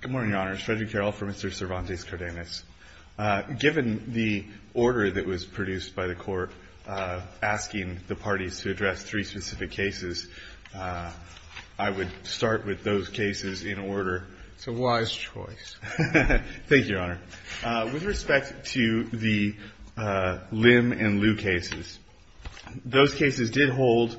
Good morning, Your Honor. It's Frederick Carroll for Mr. Cervantes-Cardenas. Given the order that was produced by the Court asking the parties to address three specific cases, I would start with those cases in order. It's a wise choice. Thank you, Your Honor. With respect to the Lim and Liu cases, those cases did hold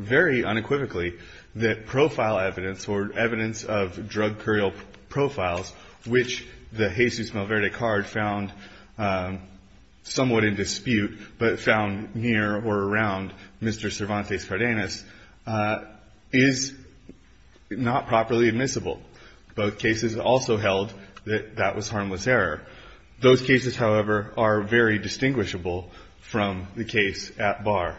very unequivocally that profile evidence or evidence of drug courier profiles, which the Jesus Malverde card found somewhat in dispute but found near or around Mr. Cervantes-Cardenas, is not properly admissible. Both cases also held that that was harmless error. Those cases, however, are very distinguishable from the case at bar.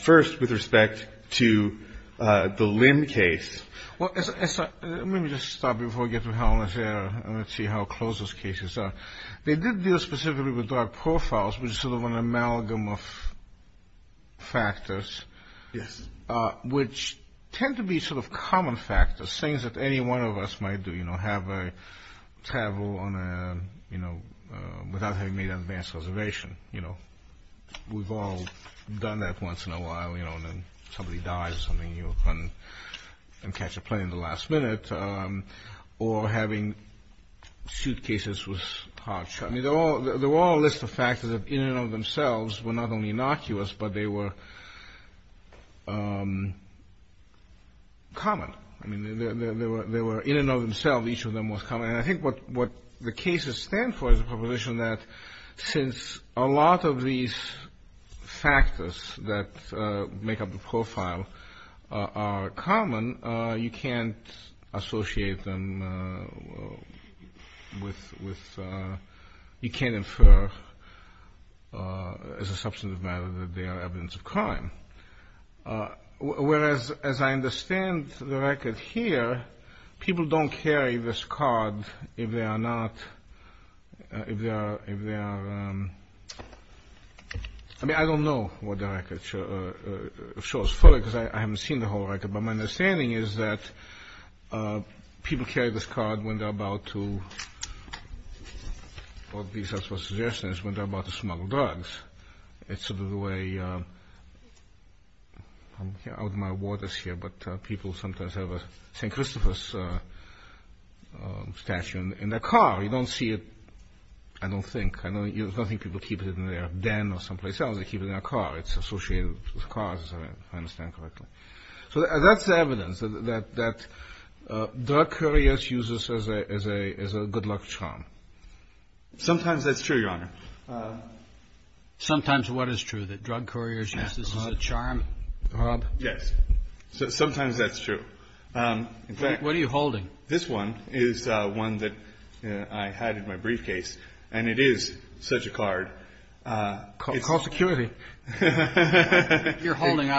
First, with respect to the Lim case. Well, let me just stop before I get to harmless error and let's see how close those cases are. They did deal specifically with drug profiles, which is sort of an amalgam of factors, which tend to be sort of common factors, things that any one of us might do, you know, have a travel on a, you know, without having made an advance reservation. You know, we've all done that once in a while, you know, and then somebody dies or something, you know, and catch a plane at the last minute. Or having suitcases with hard shutters. I mean, they're all a list of factors that in and of themselves were not only innocuous, but they were common. I mean, they were in and of themselves, each of them was common. And I think what the cases stand for is a proposition that since a lot of these factors that make up the profile are common, you can't associate them with you can't infer as a substantive matter that they are evidence of crime. Whereas, as I understand the record here, people don't carry this card if they are not, if they are, I mean, I don't know what the record shows fully because I haven't seen the whole record, but my understanding is that people carry this card when they're about to, well, these are suggestions when they're about to smuggle drugs. It's sort of the way, I'm out of my waters here, but people sometimes have a St. Christopher's statue in their car. You don't see it, I don't think. I don't think people keep it in their den or someplace else. They keep it in their car. It's associated with cars, if I understand correctly. So that's evidence that drug couriers use this as a good luck charm. Sometimes that's true, Your Honor. Sometimes what is true, that drug couriers use this as a charm, Rob? Yes. Sometimes that's true. What are you holding? This one is one that I had in my briefcase, and it is such a card. Call security. You're holding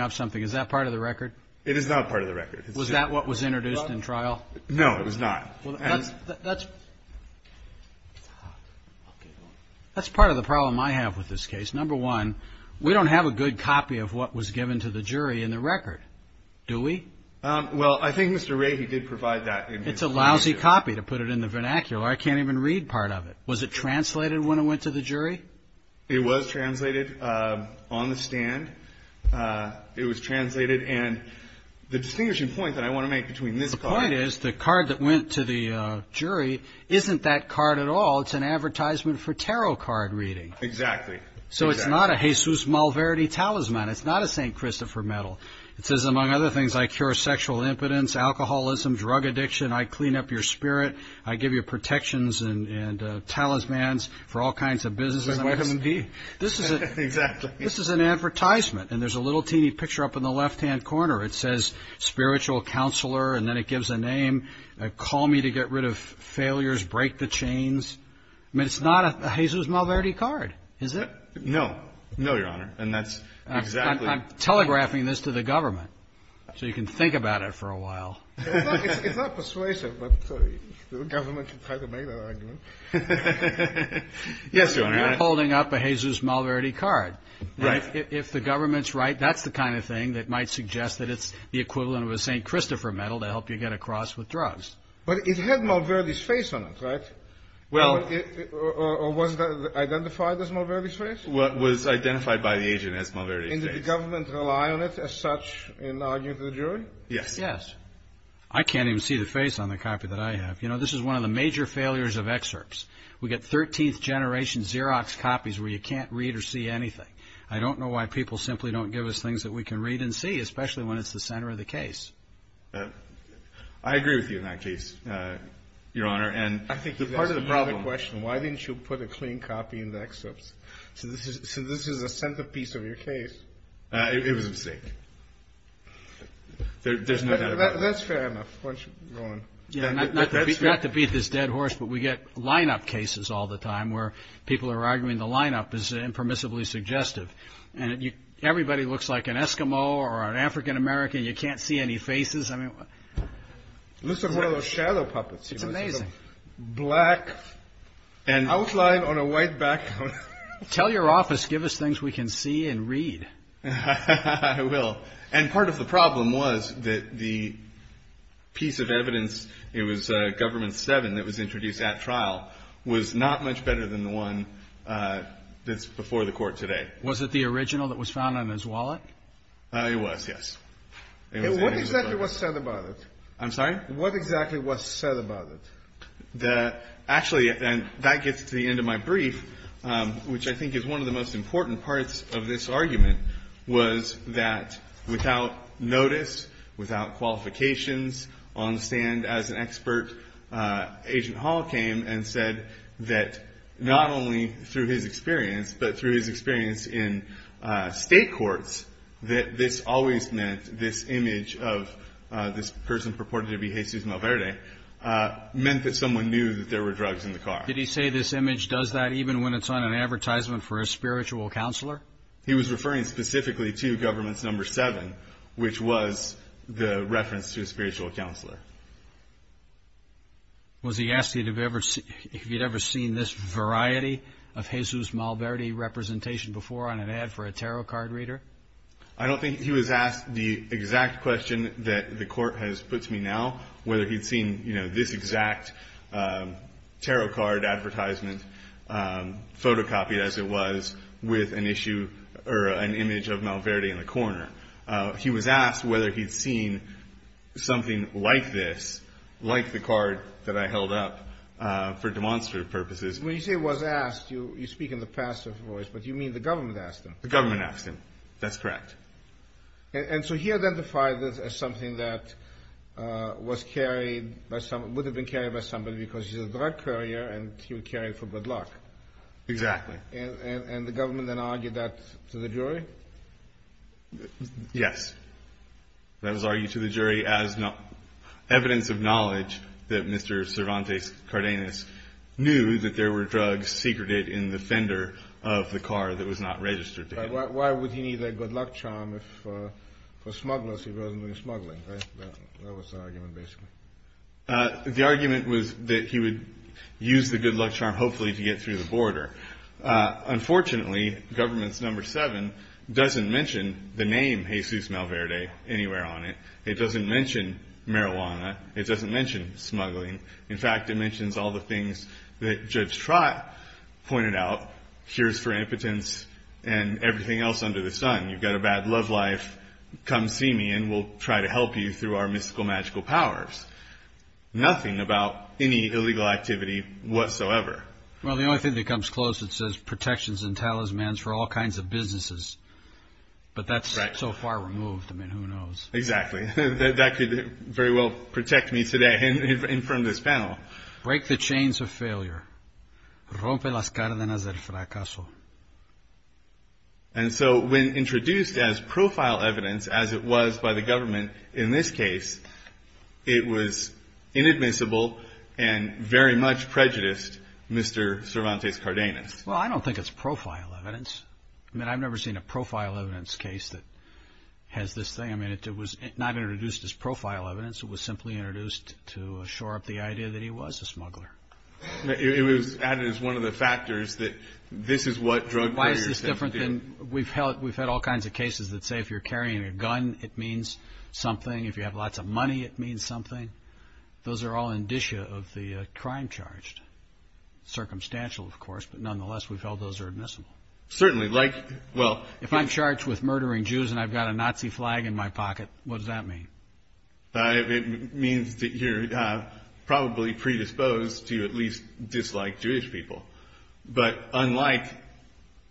up something. Is that part of the record? It is not part of the record. Was that what was introduced in trial? No, it was not. That's part of the problem I have with this case. Number one, we don't have a good copy of what was given to the jury in the record, do we? Well, I think Mr. Ray, he did provide that. It's a lousy copy to put it in the vernacular. I can't even read part of it. Was it translated when it went to the jury? It was translated on the stand. It was translated. And the distinguishing point that I want to make between this card and this one is the card that went to the jury isn't that card at all. It's an advertisement for tarot card reading. Exactly. So it's not a Jesus Malverde talisman. It's not a St. Christopher medal. It says, among other things, I cure sexual impotence, alcoholism, drug addiction. I clean up your spirit. I give you protections and talismans for all kinds of business. Like vitamin D. Exactly. This is an advertisement, and there's a little teeny picture up in the left-hand corner. It says spiritual counselor, and then it gives a name. Call me to get rid of failures, break the chains. I mean, it's not a Jesus Malverde card, is it? No. No, Your Honor, and that's exactly. I'm telegraphing this to the government so you can think about it for a while. It's not persuasive, but the government can try to make that argument. Yes, Your Honor. You're holding up a Jesus Malverde card. Right. If the government's right, that's the kind of thing that might suggest that it's the equivalent of a St. Christopher medal to help you get across with drugs. But it had Malverde's face on it, right? Or was that identified as Malverde's face? It was identified by the agent as Malverde's face. And did the government rely on it as such in arguing to the jury? Yes. Yes. I can't even see the face on the copy that I have. You know, this is one of the major failures of excerpts. We get 13th generation Xerox copies where you can't read or see anything. I don't know why people simply don't give us things that we can read and see, especially when it's the center of the case. I agree with you on that case, Your Honor. And part of the problem. I think that's a valid question. Why didn't you put a clean copy in the excerpts? So this is a centerpiece of your case. It was a mistake. There's no doubt about that. That's fair enough. Why don't you go on? Not to beat this dead horse, but we get lineup cases all the time where people are arguing the lineup is impermissibly suggestive. Everybody looks like an Eskimo or an African-American. You can't see any faces. It looks like one of those shadow puppets. It's amazing. Black outline on a white background. Tell your office, give us things we can see and read. I will. And part of the problem was that the piece of evidence, it was Government 7 that was introduced at trial, was not much better than the one that's before the Court today. Was it the original that was found on his wallet? It was, yes. What exactly was said about it? I'm sorry? What exactly was said about it? Actually, that gets to the end of my brief, which I think is one of the most important parts of this argument, was that without notice, without qualifications, on the stand as an expert, Agent Hall came and said that not only through his experience, but through his experience in state courts, that this always meant this image of this person purported to be Jesus Malverde meant that someone knew that there were drugs in the car. Did he say this image does that even when it's on an advertisement for a spiritual counselor? He was referring specifically to Government 7, which was the reference to a spiritual counselor. Was he asking if he had ever seen this variety of Jesus Malverde representation before on an ad for a tarot card reader? I don't think he was asked the exact question that the Court has put to me now, whether he had seen this exact tarot card advertisement, photocopied as it was, with an image of Malverde in the corner. He was asked whether he'd seen something like this, like the card that I held up, for demonstrative purposes. When you say was asked, you speak in the pastor's voice, but you mean the government asked him? The government asked him. That's correct. And so he identified this as something that would have been carried by somebody because he's a drug courier and he would carry it for good luck. Exactly. And the government then argued that to the jury? Yes. That was argued to the jury as evidence of knowledge that Mr. Cervantes Cardenas knew that there were drugs secreted in the fender of the car that was not registered to him. Why would he need a good luck charm for smugglers if he wasn't doing smuggling? That was the argument, basically. The argument was that he would use the good luck charm, hopefully, to get through the border. Unfortunately, Governments No. 7 doesn't mention the name Jesus Malverde anywhere on it. It doesn't mention marijuana. It doesn't mention smuggling. In fact, it mentions all the things that Judge Trott pointed out, cures for impotence and everything else under the sun. You've got a bad love life. Come see me and we'll try to help you through our mystical, magical powers. Nothing about any illegal activity whatsoever. Well, the only thing that comes close, it says, protections and talismans for all kinds of businesses. But that's so far removed. I mean, who knows? Exactly. That could very well protect me today in front of this panel. Break the chains of failure. And so when introduced as profile evidence, as it was by the government in this case, it was inadmissible and very much prejudiced Mr. Cervantes Cardenas. Well, I don't think it's profile evidence. I mean, I've never seen a profile evidence case that has this thing. I mean, it was not introduced as profile evidence. It was simply introduced to shore up the idea that he was a smuggler. It was added as one of the factors that this is what drug players do. Why is this different? We've had all kinds of cases that say if you're carrying a gun, it means something. If you have lots of money, it means something. Those are all indicia of the crime charged. Circumstantial, of course, but nonetheless, we've held those are admissible. Certainly. If I'm charged with murdering Jews and I've got a Nazi flag in my pocket, what does that mean? It means that you're probably predisposed to at least dislike Jewish people. But unlike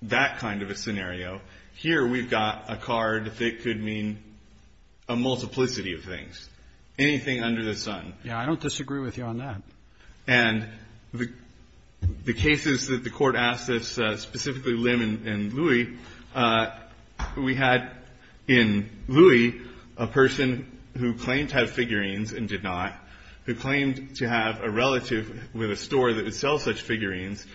that kind of a scenario, here we've got a card that could mean a multiplicity of things, anything under the sun. Yeah, I don't disagree with you on that. And the cases that the court asked us, specifically Lim and Louie, we had in Louie a person who claimed to have figurines and did not, who claimed to have a relative with a store that would sell such figurines.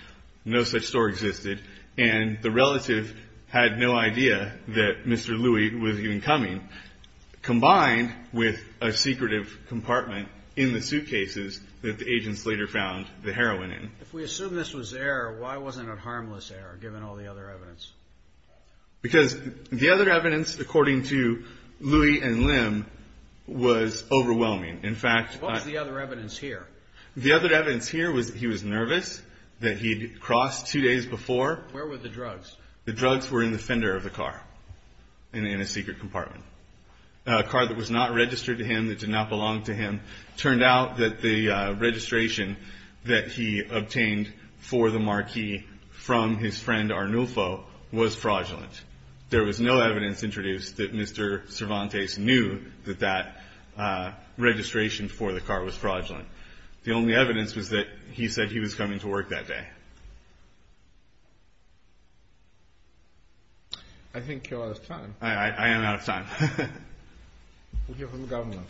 No such store existed. And the relative had no idea that Mr. Louie was even coming, combined with a secretive compartment in the suitcases that the agents later found the heroin in. If we assume this was error, why wasn't it harmless error, given all the other evidence? Because the other evidence, according to Louie and Lim, was overwhelming. What was the other evidence here? The other evidence here was that he was nervous, that he'd crossed two days before. Where were the drugs? The drugs were in the fender of the car, in a secret compartment. A car that was not registered to him, that did not belong to him. Turned out that the registration that he obtained for the marquee from his friend Arnulfo was fraudulent. There was no evidence introduced that Mr. Cervantes knew that that registration for the car was fraudulent. The only evidence was that he said he was coming to work that day. I think you're out of time. I am out of time. We'll hear from the government.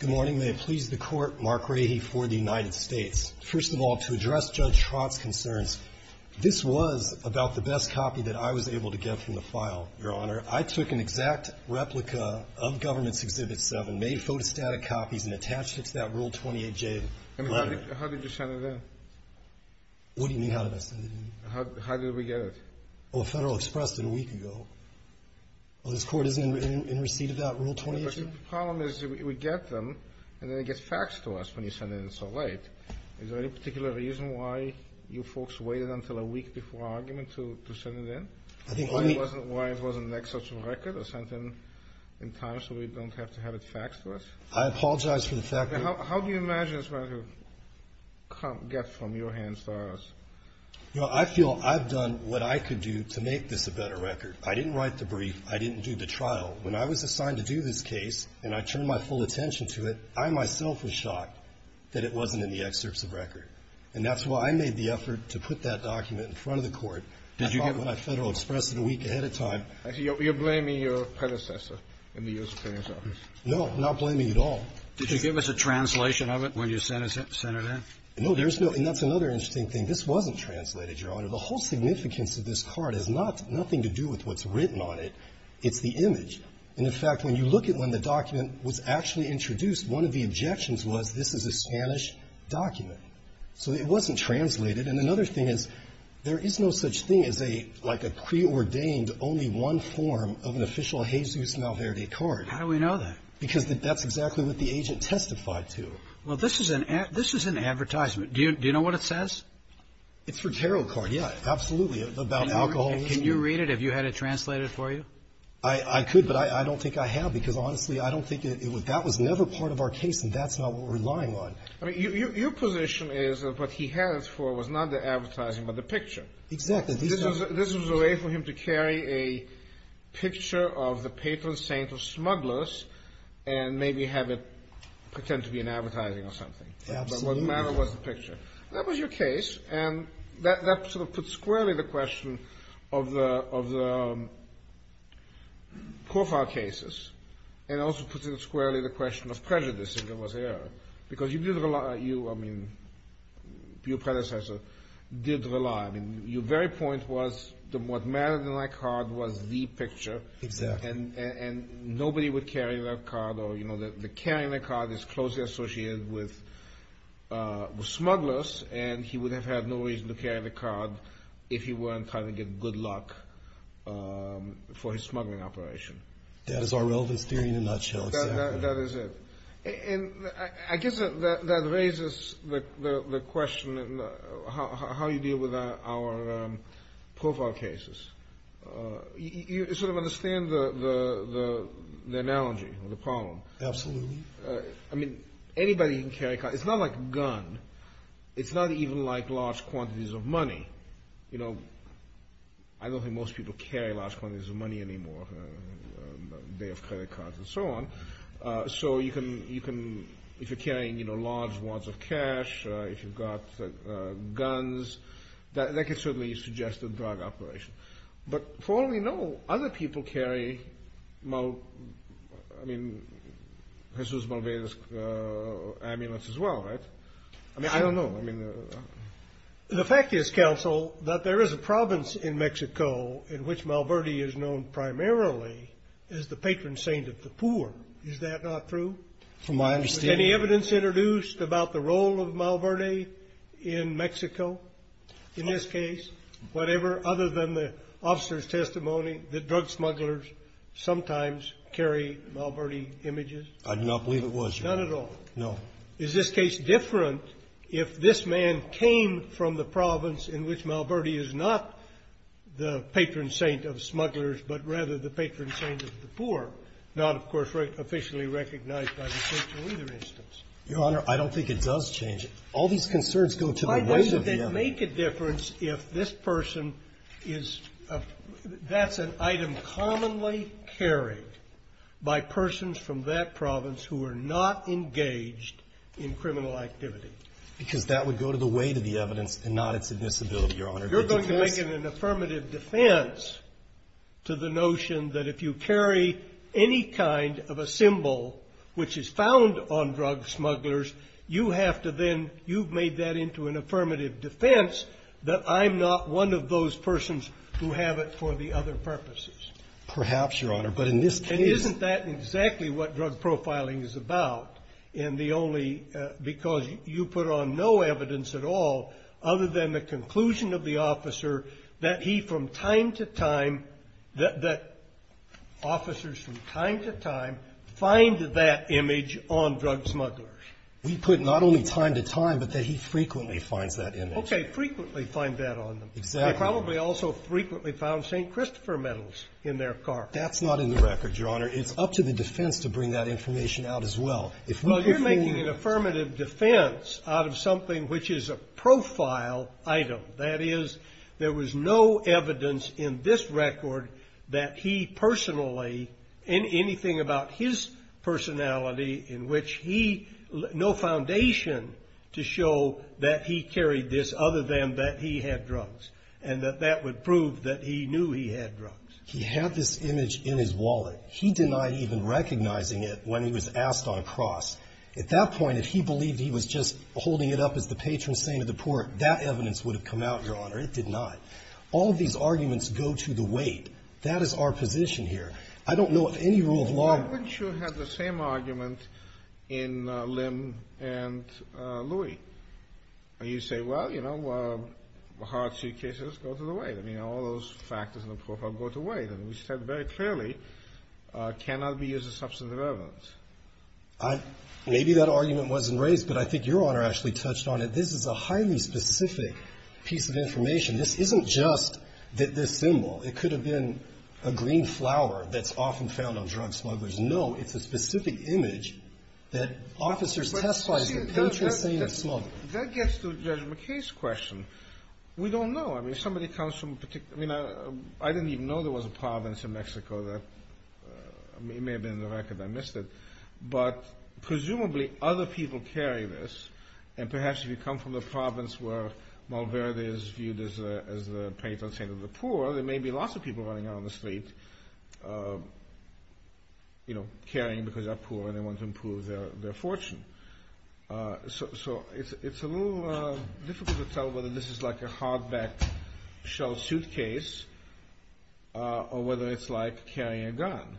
Good morning. May it please the Court. Mark Rahe for the United States. First of all, to address Judge Trott's concerns, this was about the best copy that I was able to get from the file, Your Honor. I took an exact replica of Government's Exhibit 7, made photostatic copies, and attached it to that Rule 28J letter. I mean, how did you send it in? What do you mean, how did I send it in? How did we get it? Well, Federal Express did a week ago. Well, this Court isn't in receipt of that Rule 28J? The problem is we get them, and then it gets faxed to us when you send it in so late. Is there any particular reason why you folks waited until a week before our argument to send it in? I think what we need to... Why it wasn't next such a record or sent in in time so we don't have to have it faxed to us? I apologize for the fact that... How do you imagine it's going to get from your hands to ours? You know, I feel I've done what I could do to make this a better record. I didn't write the brief. I didn't do the trial. When I was assigned to do this case and I turned my full attention to it, I myself was shocked that it wasn't in the excerpts of record. And that's why I made the effort to put that document in front of the Court. I thought when I Federal Expressed it a week ahead of time... You're blaming your predecessor in the U.S. Attorney's Office. No, I'm not blaming it at all. Did you give us a translation of it when you sent it in? No, there's no. And that's another interesting thing. This wasn't translated, Your Honor. The whole significance of this card has nothing to do with what's written on it. It's the image. And, in fact, when you look at when the document was actually introduced, one of the objections was this is a Spanish document. So it wasn't translated. And another thing is there is no such thing as a, like a preordained, only one form of an official Jesus Malverde card. How do we know that? Because that's exactly what the agent testified to. Well, this is an advertisement. Do you know what it says? It's for tarot card, yeah, absolutely, about alcoholism. Can you read it? Have you had it translated for you? I could, but I don't think I have because, honestly, I don't think it would. That was never part of our case, and that's not what we're relying on. I mean, your position is that what he had it for was not the advertising but the picture. Exactly. This was a way for him to carry a picture of the patron saint of smugglers and maybe have it pretend to be an advertising or something. Absolutely. But what mattered was the picture. That was your case. And that sort of puts squarely the question of the Kofar cases and also puts squarely the question of prejudice if there was error because you did rely, I mean, your predecessor did rely. I mean, your very point was what mattered in that card was the picture. Exactly. And nobody would carry that card or, you know, the carrying the card is closely associated with smugglers and he would have had no reason to carry the card if he weren't trying to get good luck for his smuggling operation. That is our relevance theory in a nutshell, exactly. That is it. And I guess that raises the question of how you deal with our Kofar cases. You sort of understand the analogy or the problem. Absolutely. I mean, anybody can carry a card. It's not like a gun. It's not even like large quantities of money. You know, I don't think most people carry large quantities of money anymore. They have credit cards and so on. So you can, if you're carrying large wads of cash, if you've got guns, that can certainly suggest a drug operation. But for all we know, other people carry, I mean, Jesus Malverde's amulets as well, right? I mean, I don't know. The fact is, counsel, that there is a province in Mexico in which Malverde is known primarily as the patron saint of the poor. Is that not true? From my understanding. Was any evidence introduced about the role of Malverde in Mexico in this case? Whatever other than the officer's testimony that drug smugglers sometimes carry Malverde images? I do not believe it was. None at all? No. Is this case different if this man came from the province in which Malverde is not the patron saint of smugglers, but rather the patron saint of the poor, not, of course, officially recognized by the social leader instance? Your Honor, I don't think it does change it. All these concerns go to the weight of the evidence. Why would that make a difference if this person is a – that's an item commonly carried by persons from that province who are not engaged in criminal activity? Because that would go to the weight of the evidence and not its admissibility, Your Honor. You're going to make it an affirmative defense to the notion that if you carry any kind of a symbol which is found on drug smugglers, you have to then – you've made that into an affirmative defense that I'm not one of those persons who have it for the other purposes. Perhaps, Your Honor. But in this case – And isn't that exactly what drug profiling is about? In the only – because you put on no evidence at all other than the conclusion of the officer that he from time to time, that officers from time to time find that image on drug smugglers. We put not only time to time, but that he frequently finds that image. Okay. Frequently find that on them. Exactly. They probably also frequently found St. Christopher medals in their car. That's not in the record, Your Honor. It's up to the defense to bring that information out as well. Well, you're making an affirmative defense out of something which is a profile item. That is, there was no evidence in this record that he personally – anything about his personality in which he – no foundation to show that he carried this other than that he had drugs. And that that would prove that he knew he had drugs. He had this image in his wallet. He denied even recognizing it when he was asked on cross. At that point, if he believed he was just holding it up as the patron saint of the poor, that evidence would have come out, Your Honor. It did not. All of these arguments go to the weight. That is our position here. I don't know of any rule of law – Why wouldn't you have the same argument in Lim and Louie? You say, well, you know, hard suitcases go to the weight. I mean, all those factors in the profile go to weight. We said very clearly cannot be used as substantive evidence. Maybe that argument wasn't raised, but I think Your Honor actually touched on it. This is a highly specific piece of information. This isn't just this symbol. It could have been a green flower that's often found on drug smugglers. No. It's a specific image that officers testify as the patron saint of smugglers. That gets to Judge McKay's question. We don't know. I mean, if somebody comes from a particular – I mean, I didn't even know there was a province in Mexico that – it may have been in the record. I missed it. But presumably other people carry this, and perhaps if you come from the province where Malverde is viewed as the patron saint of the poor, there may be lots of people running out on the street carrying because they're poor and they want to improve their fortune. So it's a little difficult to tell whether this is like a hardback shell suitcase or whether it's like carrying a gun.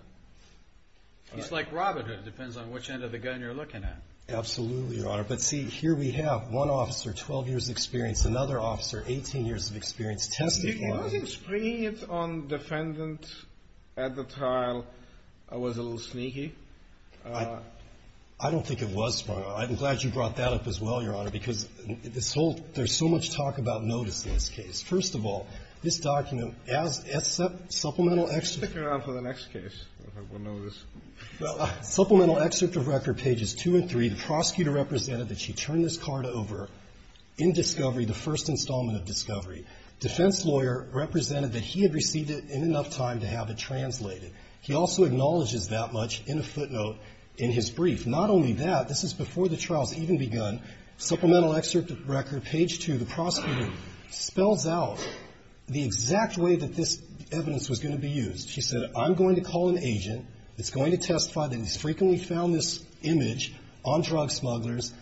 It's like robbing it. It depends on which end of the gun you're looking at. Absolutely, Your Honor. But see, here we have one officer 12 years experience, another officer 18 years of experience testing. He was experienced on defendant at the trial. It was a little sneaky. I don't think it was, Your Honor. I'm glad you brought that up as well, Your Honor, because this whole – there's so much talk about notice in this case. First of all, this document, as supplemental – Stick around for the next case. We'll know this. Supplemental excerpt of record, pages 2 and 3, the prosecutor represented that she turned this card over in discovery, the first installment of discovery. Defense lawyer represented that he had received it in enough time to have it translated. He also acknowledges that much in a footnote in his brief. Not only that, this is before the trial has even begun. Supplemental excerpt of record, page 2, the prosecutor spells out the exact way that this evidence was going to be used. She said, I'm going to call an agent that's going to testify that he's frequently found this image on drug smugglers,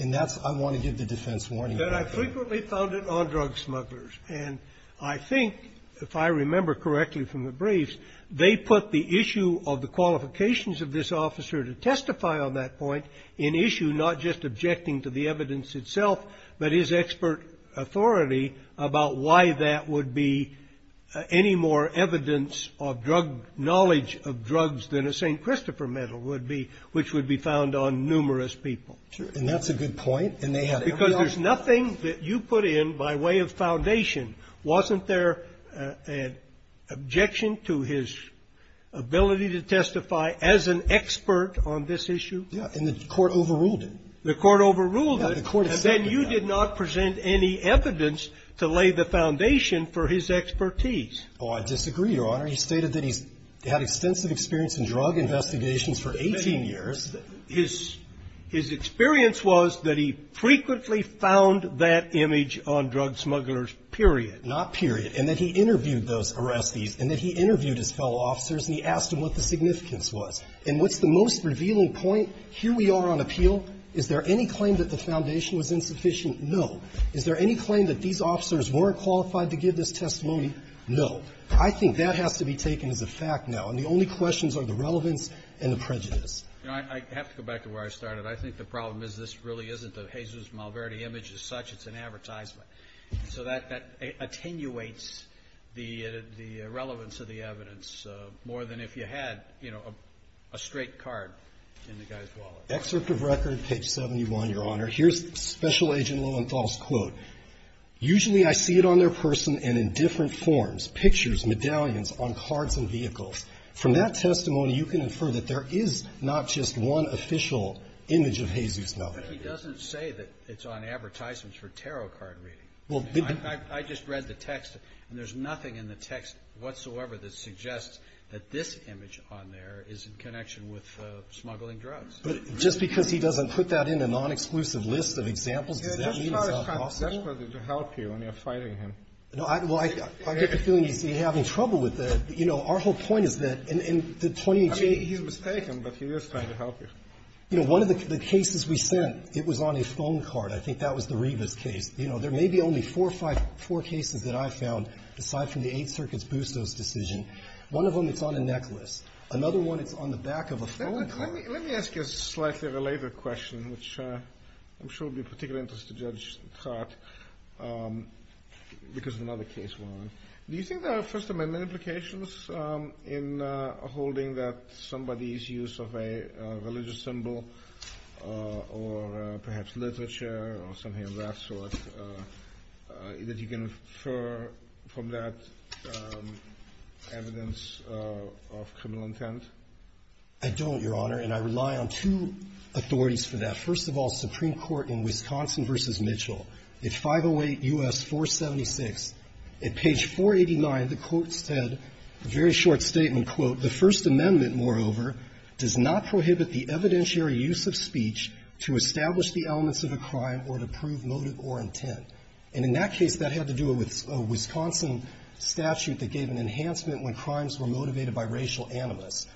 and that's – I want to give the defense warning. That I frequently found it on drug smugglers. And I think, if I remember correctly from the briefs, they put the issue of the qualifications of this officer to testify on that point in issue, not just objecting to the evidence itself, but his expert authority about why that would be any more evidence of drug – knowledge of drugs than a St. Christopher medal would be, which would be found on numerous people. And that's a good point. And they have evidence. Because there's nothing that you put in by way of foundation. Wasn't there an objection to his ability to testify as an expert on this issue? Yeah. And the court overruled it. The court overruled it. Yeah. The court accepted that. And then you did not present any evidence to lay the foundation for his expertise. Oh, I disagree, Your Honor. He stated that he's had extensive experience in drug investigations for 18 years. His experience was that he frequently found that image on drug smugglers, period. Not period. And that he interviewed those arrestees and that he interviewed his fellow officers and he asked them what the significance was. And what's the most revealing point? Here we are on appeal. Is there any claim that the foundation was insufficient? No. Is there any claim that these officers weren't qualified to give this testimony? No. I think that has to be taken as a fact now. And the only questions are the relevance and the prejudice. You know, I have to go back to where I started. I think the problem is this really isn't a Jesus Malverde image as such. It's an advertisement. So that attenuates the relevance of the evidence more than if you had, you know, a straight card in the guy's wallet. Excerpt of record, page 71, Your Honor. Here's Special Agent Lowenthal's quote. Usually I see it on their person and in different forms, pictures, medallions, on cards and vehicles. From that testimony, you can infer that there is not just one official image of Jesus Malverde. But he doesn't say that it's on advertisements for tarot card reading. I just read the text and there's nothing in the text whatsoever that suggests that this image on there is in connection with smuggling drugs. But just because he doesn't put that in a non-exclusive list of examples, does that mean it's not possible? He's not trying desperately to help you when you're fighting him. No. Well, I get the feeling he's having trouble with that. You know, our whole point is that in the 2018 He's mistaken, but he is trying to help you. You know, one of the cases we sent, it was on a phone card. I think that was the Rivas case. You know, there may be only four or five, four cases that I've found, aside from the Eighth Circuit's Bustos decision. One of them, it's on a necklace. Another one, it's on the back of a phone card. Let me ask you a slightly related question, which I'm sure will be of particular interest to Judge Trott, because another case we're on. Do you think there are First Amendment implications in holding that somebody's use of a religious symbol or perhaps literature or something of that sort, that you can infer from that evidence of criminal intent? I don't, Your Honor, and I rely on two authorities for that. First of all, Supreme Court in Wisconsin v. Mitchell, at 508 U.S. 476, at page 489, the Court said, a very short statement, quote, The First Amendment, moreover, does not prohibit the evidentiary use of speech to establish the elements of a crime or to prove motive or intent. And in that case, that had to do with a Wisconsin statute that gave an enhancement when crimes were motivated by racial animus.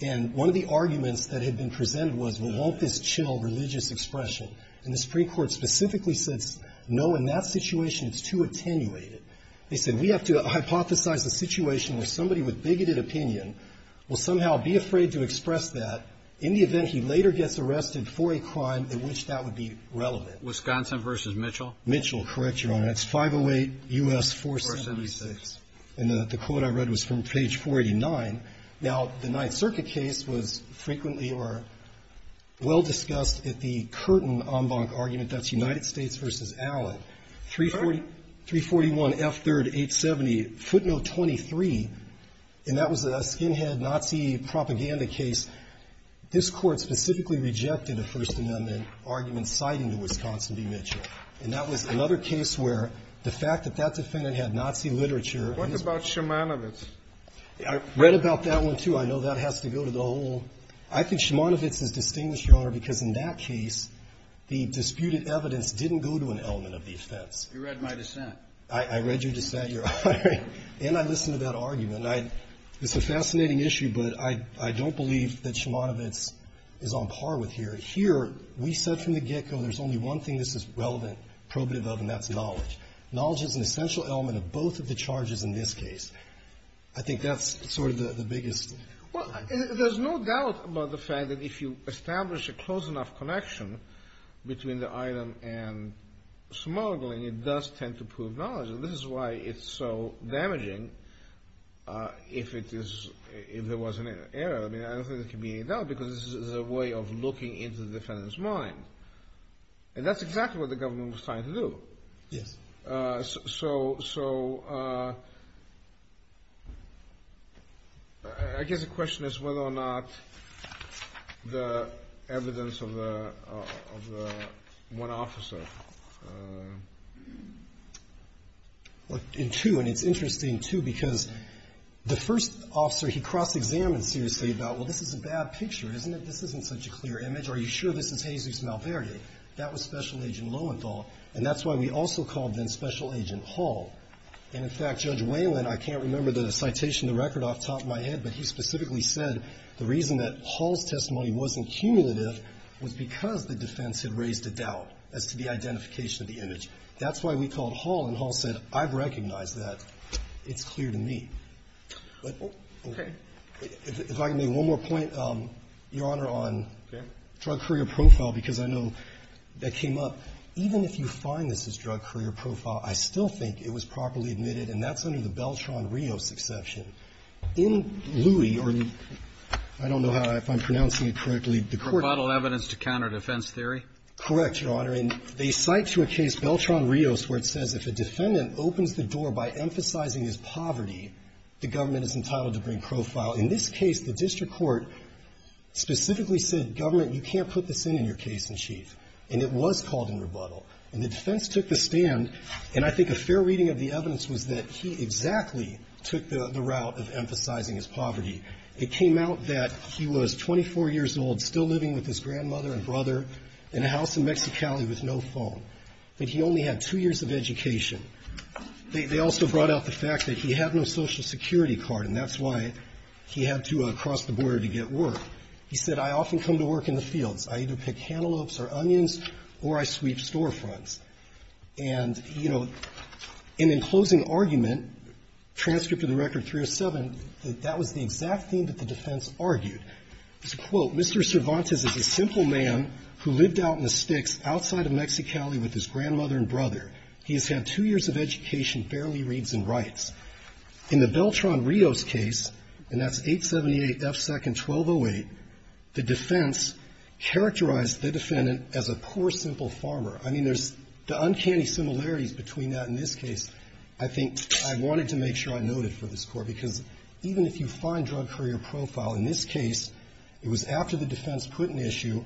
And one of the arguments that had been presented was, well, won't this chill religious expression? And the Supreme Court specifically said, no, in that situation, it's too attenuated. They said, we have to hypothesize a situation where somebody with bigoted opinion will somehow be afraid to express that in the event he later gets arrested for a crime in which that would be relevant. Wisconsin v. Mitchell? Mitchell, correct, Your Honor. It's 508 U.S. 476. And the quote I read was from page 489. Now, the Ninth Circuit case was frequently or well-discussed at the Curtin-Ombank argument. That's United States v. Allen. 341 F. 3rd, 870, footnote 23. And that was a skinhead Nazi propaganda case. This Court specifically rejected a First Amendment argument citing the Wisconsin v. Mitchell. And that was another case where the fact that that defendant had Nazi literature What about Szymanowicz? I read about that one, too. I know that has to go to the whole. I think Szymanowicz is distinguished, Your Honor, because in that case, the disputed evidence didn't go to an element of the offense. You read my dissent. I read your dissent, Your Honor. And I listened to that argument. It's a fascinating issue, but I don't believe that Szymanowicz is on par with here. Here, we said from the get-go there's only one thing this is relevant, probative of, and that's knowledge. Knowledge is an essential element of both of the charges in this case. I think that's sort of the biggest. Well, there's no doubt about the fact that if you establish a close enough connection between the item and smuggling, it does tend to prove knowledge. And this is why it's so damaging if it is — if there was an error. I mean, I don't think there can be any doubt because this is a way of looking into the defendant's mind. And that's exactly what the government was trying to do. Yes. So I guess the question is whether or not the evidence of the one officer. Well, and two, and it's interesting, too, because the first officer he cross-examined seriously about, well, this is a bad picture, isn't it? This isn't such a clear image. Are you sure this is Jesus Malverde? That was Special Agent Lowenthal. And that's why we also called then Special Agent Hall. And, in fact, Judge Whalen, I can't remember the citation of the record off the top of my head, but he specifically said the reason that Hall's testimony wasn't cumulative was because the defense had raised a doubt as to the identification of the image. That's why we called Hall, and Hall said, I've recognized that. It's clear to me. Okay. If I can make one more point, Your Honor, on drug courier profile, because I know that's a question that came up. Even if you find this as drug courier profile, I still think it was properly admitted, and that's under the Beltran-Rios exception. In Louie, or I don't know if I'm pronouncing it correctly, the court ---- Provodal evidence to counter defense theory? Correct, Your Honor. And they cite to a case, Beltran-Rios, where it says if a defendant opens the door by emphasizing his poverty, the government is entitled to bring profile. In this case, the district court specifically said, Government, you can't put this in in your case in chief. And it was called in rebuttal. And the defense took the stand, and I think a fair reading of the evidence was that he exactly took the route of emphasizing his poverty. It came out that he was 24 years old, still living with his grandmother and brother in a house in Mexicali with no phone, that he only had two years of education. They also brought out the fact that he had no Social Security card, and that's why he had to cross the border to get work. He said, I often come to work in the fields. I either pick cantaloupes or onions, or I sweep storefronts. And, you know, and in closing argument, transcript of the record 307, that that was the exact thing that the defense argued. It's a quote. Mr. Cervantes is a simple man who lived out in the sticks outside of Mexicali with his grandmother and brother. He has had two years of education, barely reads and writes. In the Beltran-Rios case, and that's 878 F. Second 1208, the defense characterized the defendant as a poor, simple farmer. I mean, there's the uncanny similarities between that and this case. I think I wanted to make sure I noted for this Court, because even if you find drug courier profile in this case, it was after the defense put an issue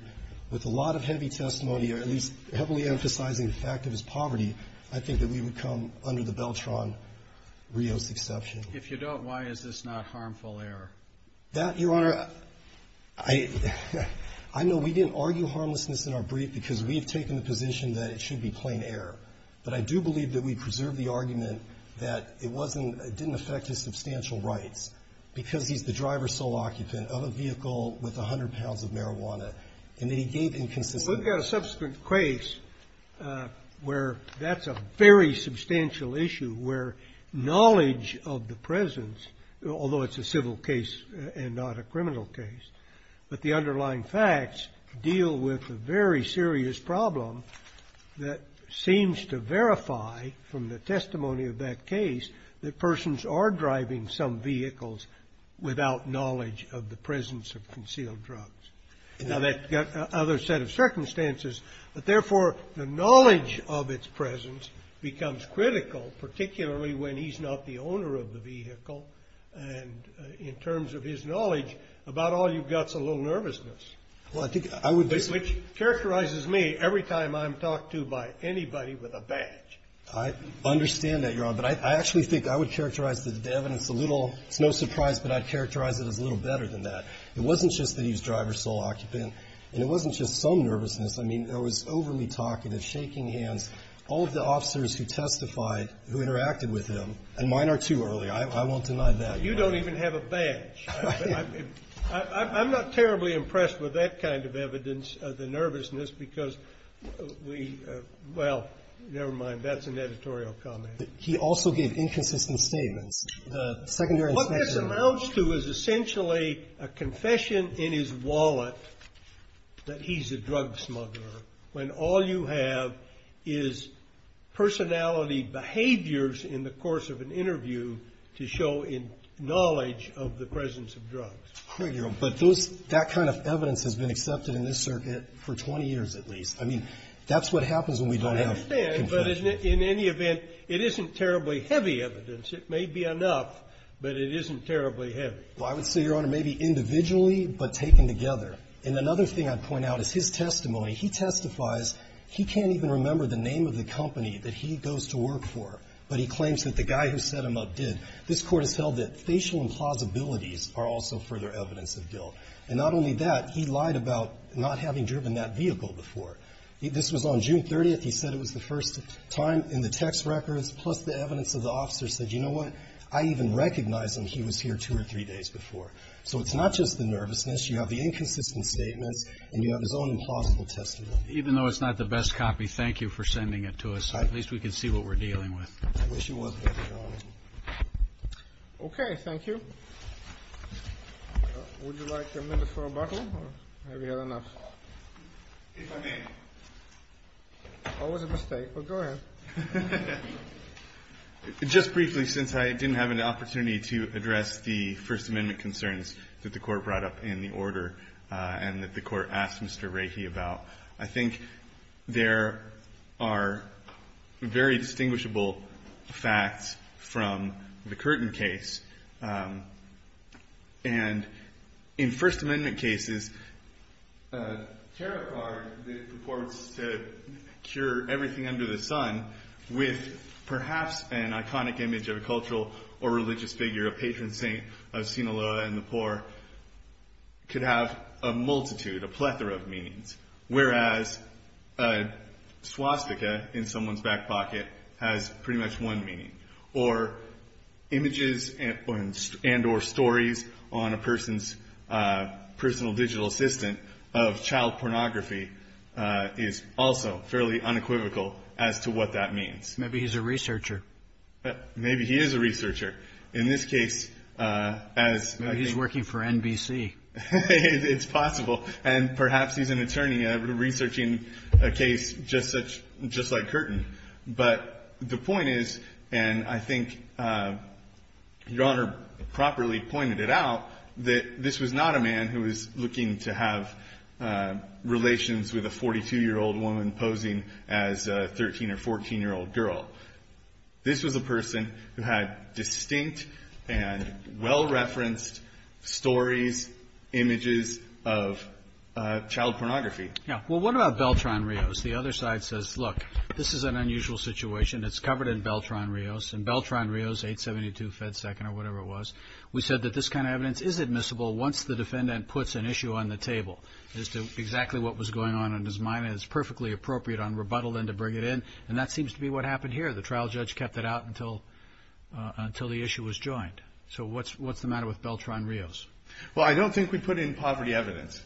with a lot of heavy testimony, or at least heavily emphasizing the fact of his poverty, I think that we would come under the Beltran-Rios exception. If you don't, why is this not harmful error? That, Your Honor, I know we didn't argue harmlessness in our brief, because we have taken the position that it should be plain error. But I do believe that we preserved the argument that it wasn't, it didn't affect his substantial rights, because he's the driver sole occupant of a vehicle with 100 pounds of marijuana, and that he gave it to the driver, and that he gave it to the driver, and that he gave it to the driver. So I believe that's a very substantial issue. If we've got a subsequent case where that's a very substantial issue, where knowledge of the presence, although it's a civil case and not a criminal case, but the underlying facts deal with a very serious problem that seems to verify from the testimony of that case that persons are driving some vehicles without knowledge of the presence of concealed drugs. Now, that's got other set of circumstances. But, therefore, the knowledge of its presence becomes critical, particularly when he's not the owner of the vehicle, and in terms of his knowledge, about all you've got's a little nervousness, which characterizes me every time I'm talked to by anybody with a badge. I understand that, Your Honor. But I actually think I would characterize the evidence a little, it's no surprise, but I'd characterize it as a little better than that. It wasn't just that he was driver sole occupant, and it wasn't just some nervousness. I mean, there was overly talkative, shaking hands, all of the officers who testified, who interacted with him, and mine are too early. I won't deny that. You don't even have a badge. I'm not terribly impressed with that kind of evidence, the nervousness, because we, well, never mind, that's an editorial comment. He also gave inconsistent statements. The secondary inspection. What this amounts to is essentially a confession in his wallet that he's a drug smuggler, when all you have is personality behaviors in the course of an interview to show knowledge of the presence of drugs. But that kind of evidence has been accepted in this circuit for 20 years at least. I mean, that's what happens when we don't have confession. I understand, but in any event, it isn't terribly heavy evidence. It may be enough, but it isn't terribly heavy. Well, I would say, Your Honor, maybe individually, but taken together. And another thing I'd point out is his testimony. He testifies. He can't even remember the name of the company that he goes to work for, but he claims that the guy who set him up did. This Court has held that facial implausibilities are also further evidence of guilt. And not only that, he lied about not having driven that vehicle before. This was on June 30th. He said it was the first time in the text records, plus the evidence of the officer said, you know what, I even recognized him. He was here two or three days before. So it's not just the nervousness. You have the inconsistent statements, and you have his own implausible testimony. Even though it's not the best copy, thank you for sending it to us. At least we can see what we're dealing with. I wish he was here, Your Honor. Okay. Thank you. Would you like a minute for rebuttal, or have you had enough? If I may. Always a mistake, but go ahead. Just briefly, since I didn't have an opportunity to address the First Amendment concerns that the Court brought up in the order and that the Court asked Mr. There are very distinguishable facts from the Curtin case. And in First Amendment cases, a tarot card that purports to cure everything under the sun with perhaps an iconic image of a cultural or religious figure, a patron saint of Sinaloa and the poor, could have a multitude, a plethora of swastika in someone's back pocket has pretty much one meaning. Or images and or stories on a person's personal digital assistant of child pornography is also fairly unequivocal as to what that means. Maybe he's a researcher. Maybe he is a researcher. In this case, as I think Maybe he's working for NBC. It's possible. And perhaps he's an attorney researching a case just like Curtin. But the point is, and I think Your Honor properly pointed it out, that this was not a man who was looking to have relations with a 42-year-old woman posing as a 13- or 14-year-old girl. This was a person who had distinct and well-referenced stories, images of child pornography. Well, what about Beltran-Rios? The other side says, look, this is an unusual situation. It's covered in Beltran-Rios. In Beltran-Rios, 872 Fed Second or whatever it was, we said that this kind of evidence is admissible once the defendant puts an issue on the table as to exactly what was going on in his mind. And it's perfectly appropriate on rebuttal then to bring it in. And that seems to be what happened here. The trial judge kept it out until the issue was joined. So what's the matter with Beltran-Rios? Well, I don't think we put in poverty evidence,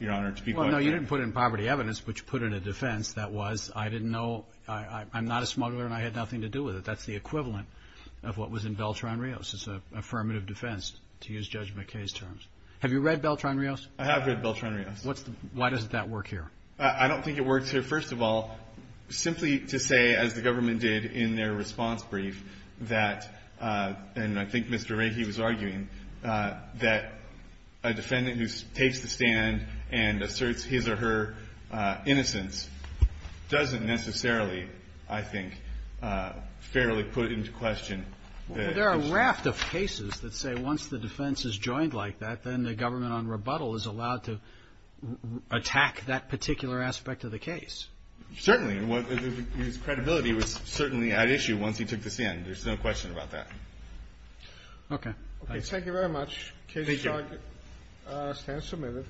Your Honor, to be quite frank. Well, no, you didn't put in poverty evidence, but you put in a defense that was, I didn't know, I'm not a smuggler and I had nothing to do with it. That's the equivalent of what was in Beltran-Rios. It's an affirmative defense, to use Judge McKay's terms. Have you read Beltran-Rios? I have read Beltran-Rios. Why does that work here? I don't think it works here. I mean, first of all, simply to say, as the government did in their response brief, that, and I think Mr. Rahe was arguing, that a defendant who takes the stand and asserts his or her innocence doesn't necessarily, I think, fairly put into question the issue. Well, there are a raft of cases that say once the defense is joined like that, then the government on rebuttal is allowed to attack that particular aspect of the case. Certainly. His credibility was certainly at issue once he took the stand. There's no question about that. Okay. Thank you very much. Thank you. The case is now submitted.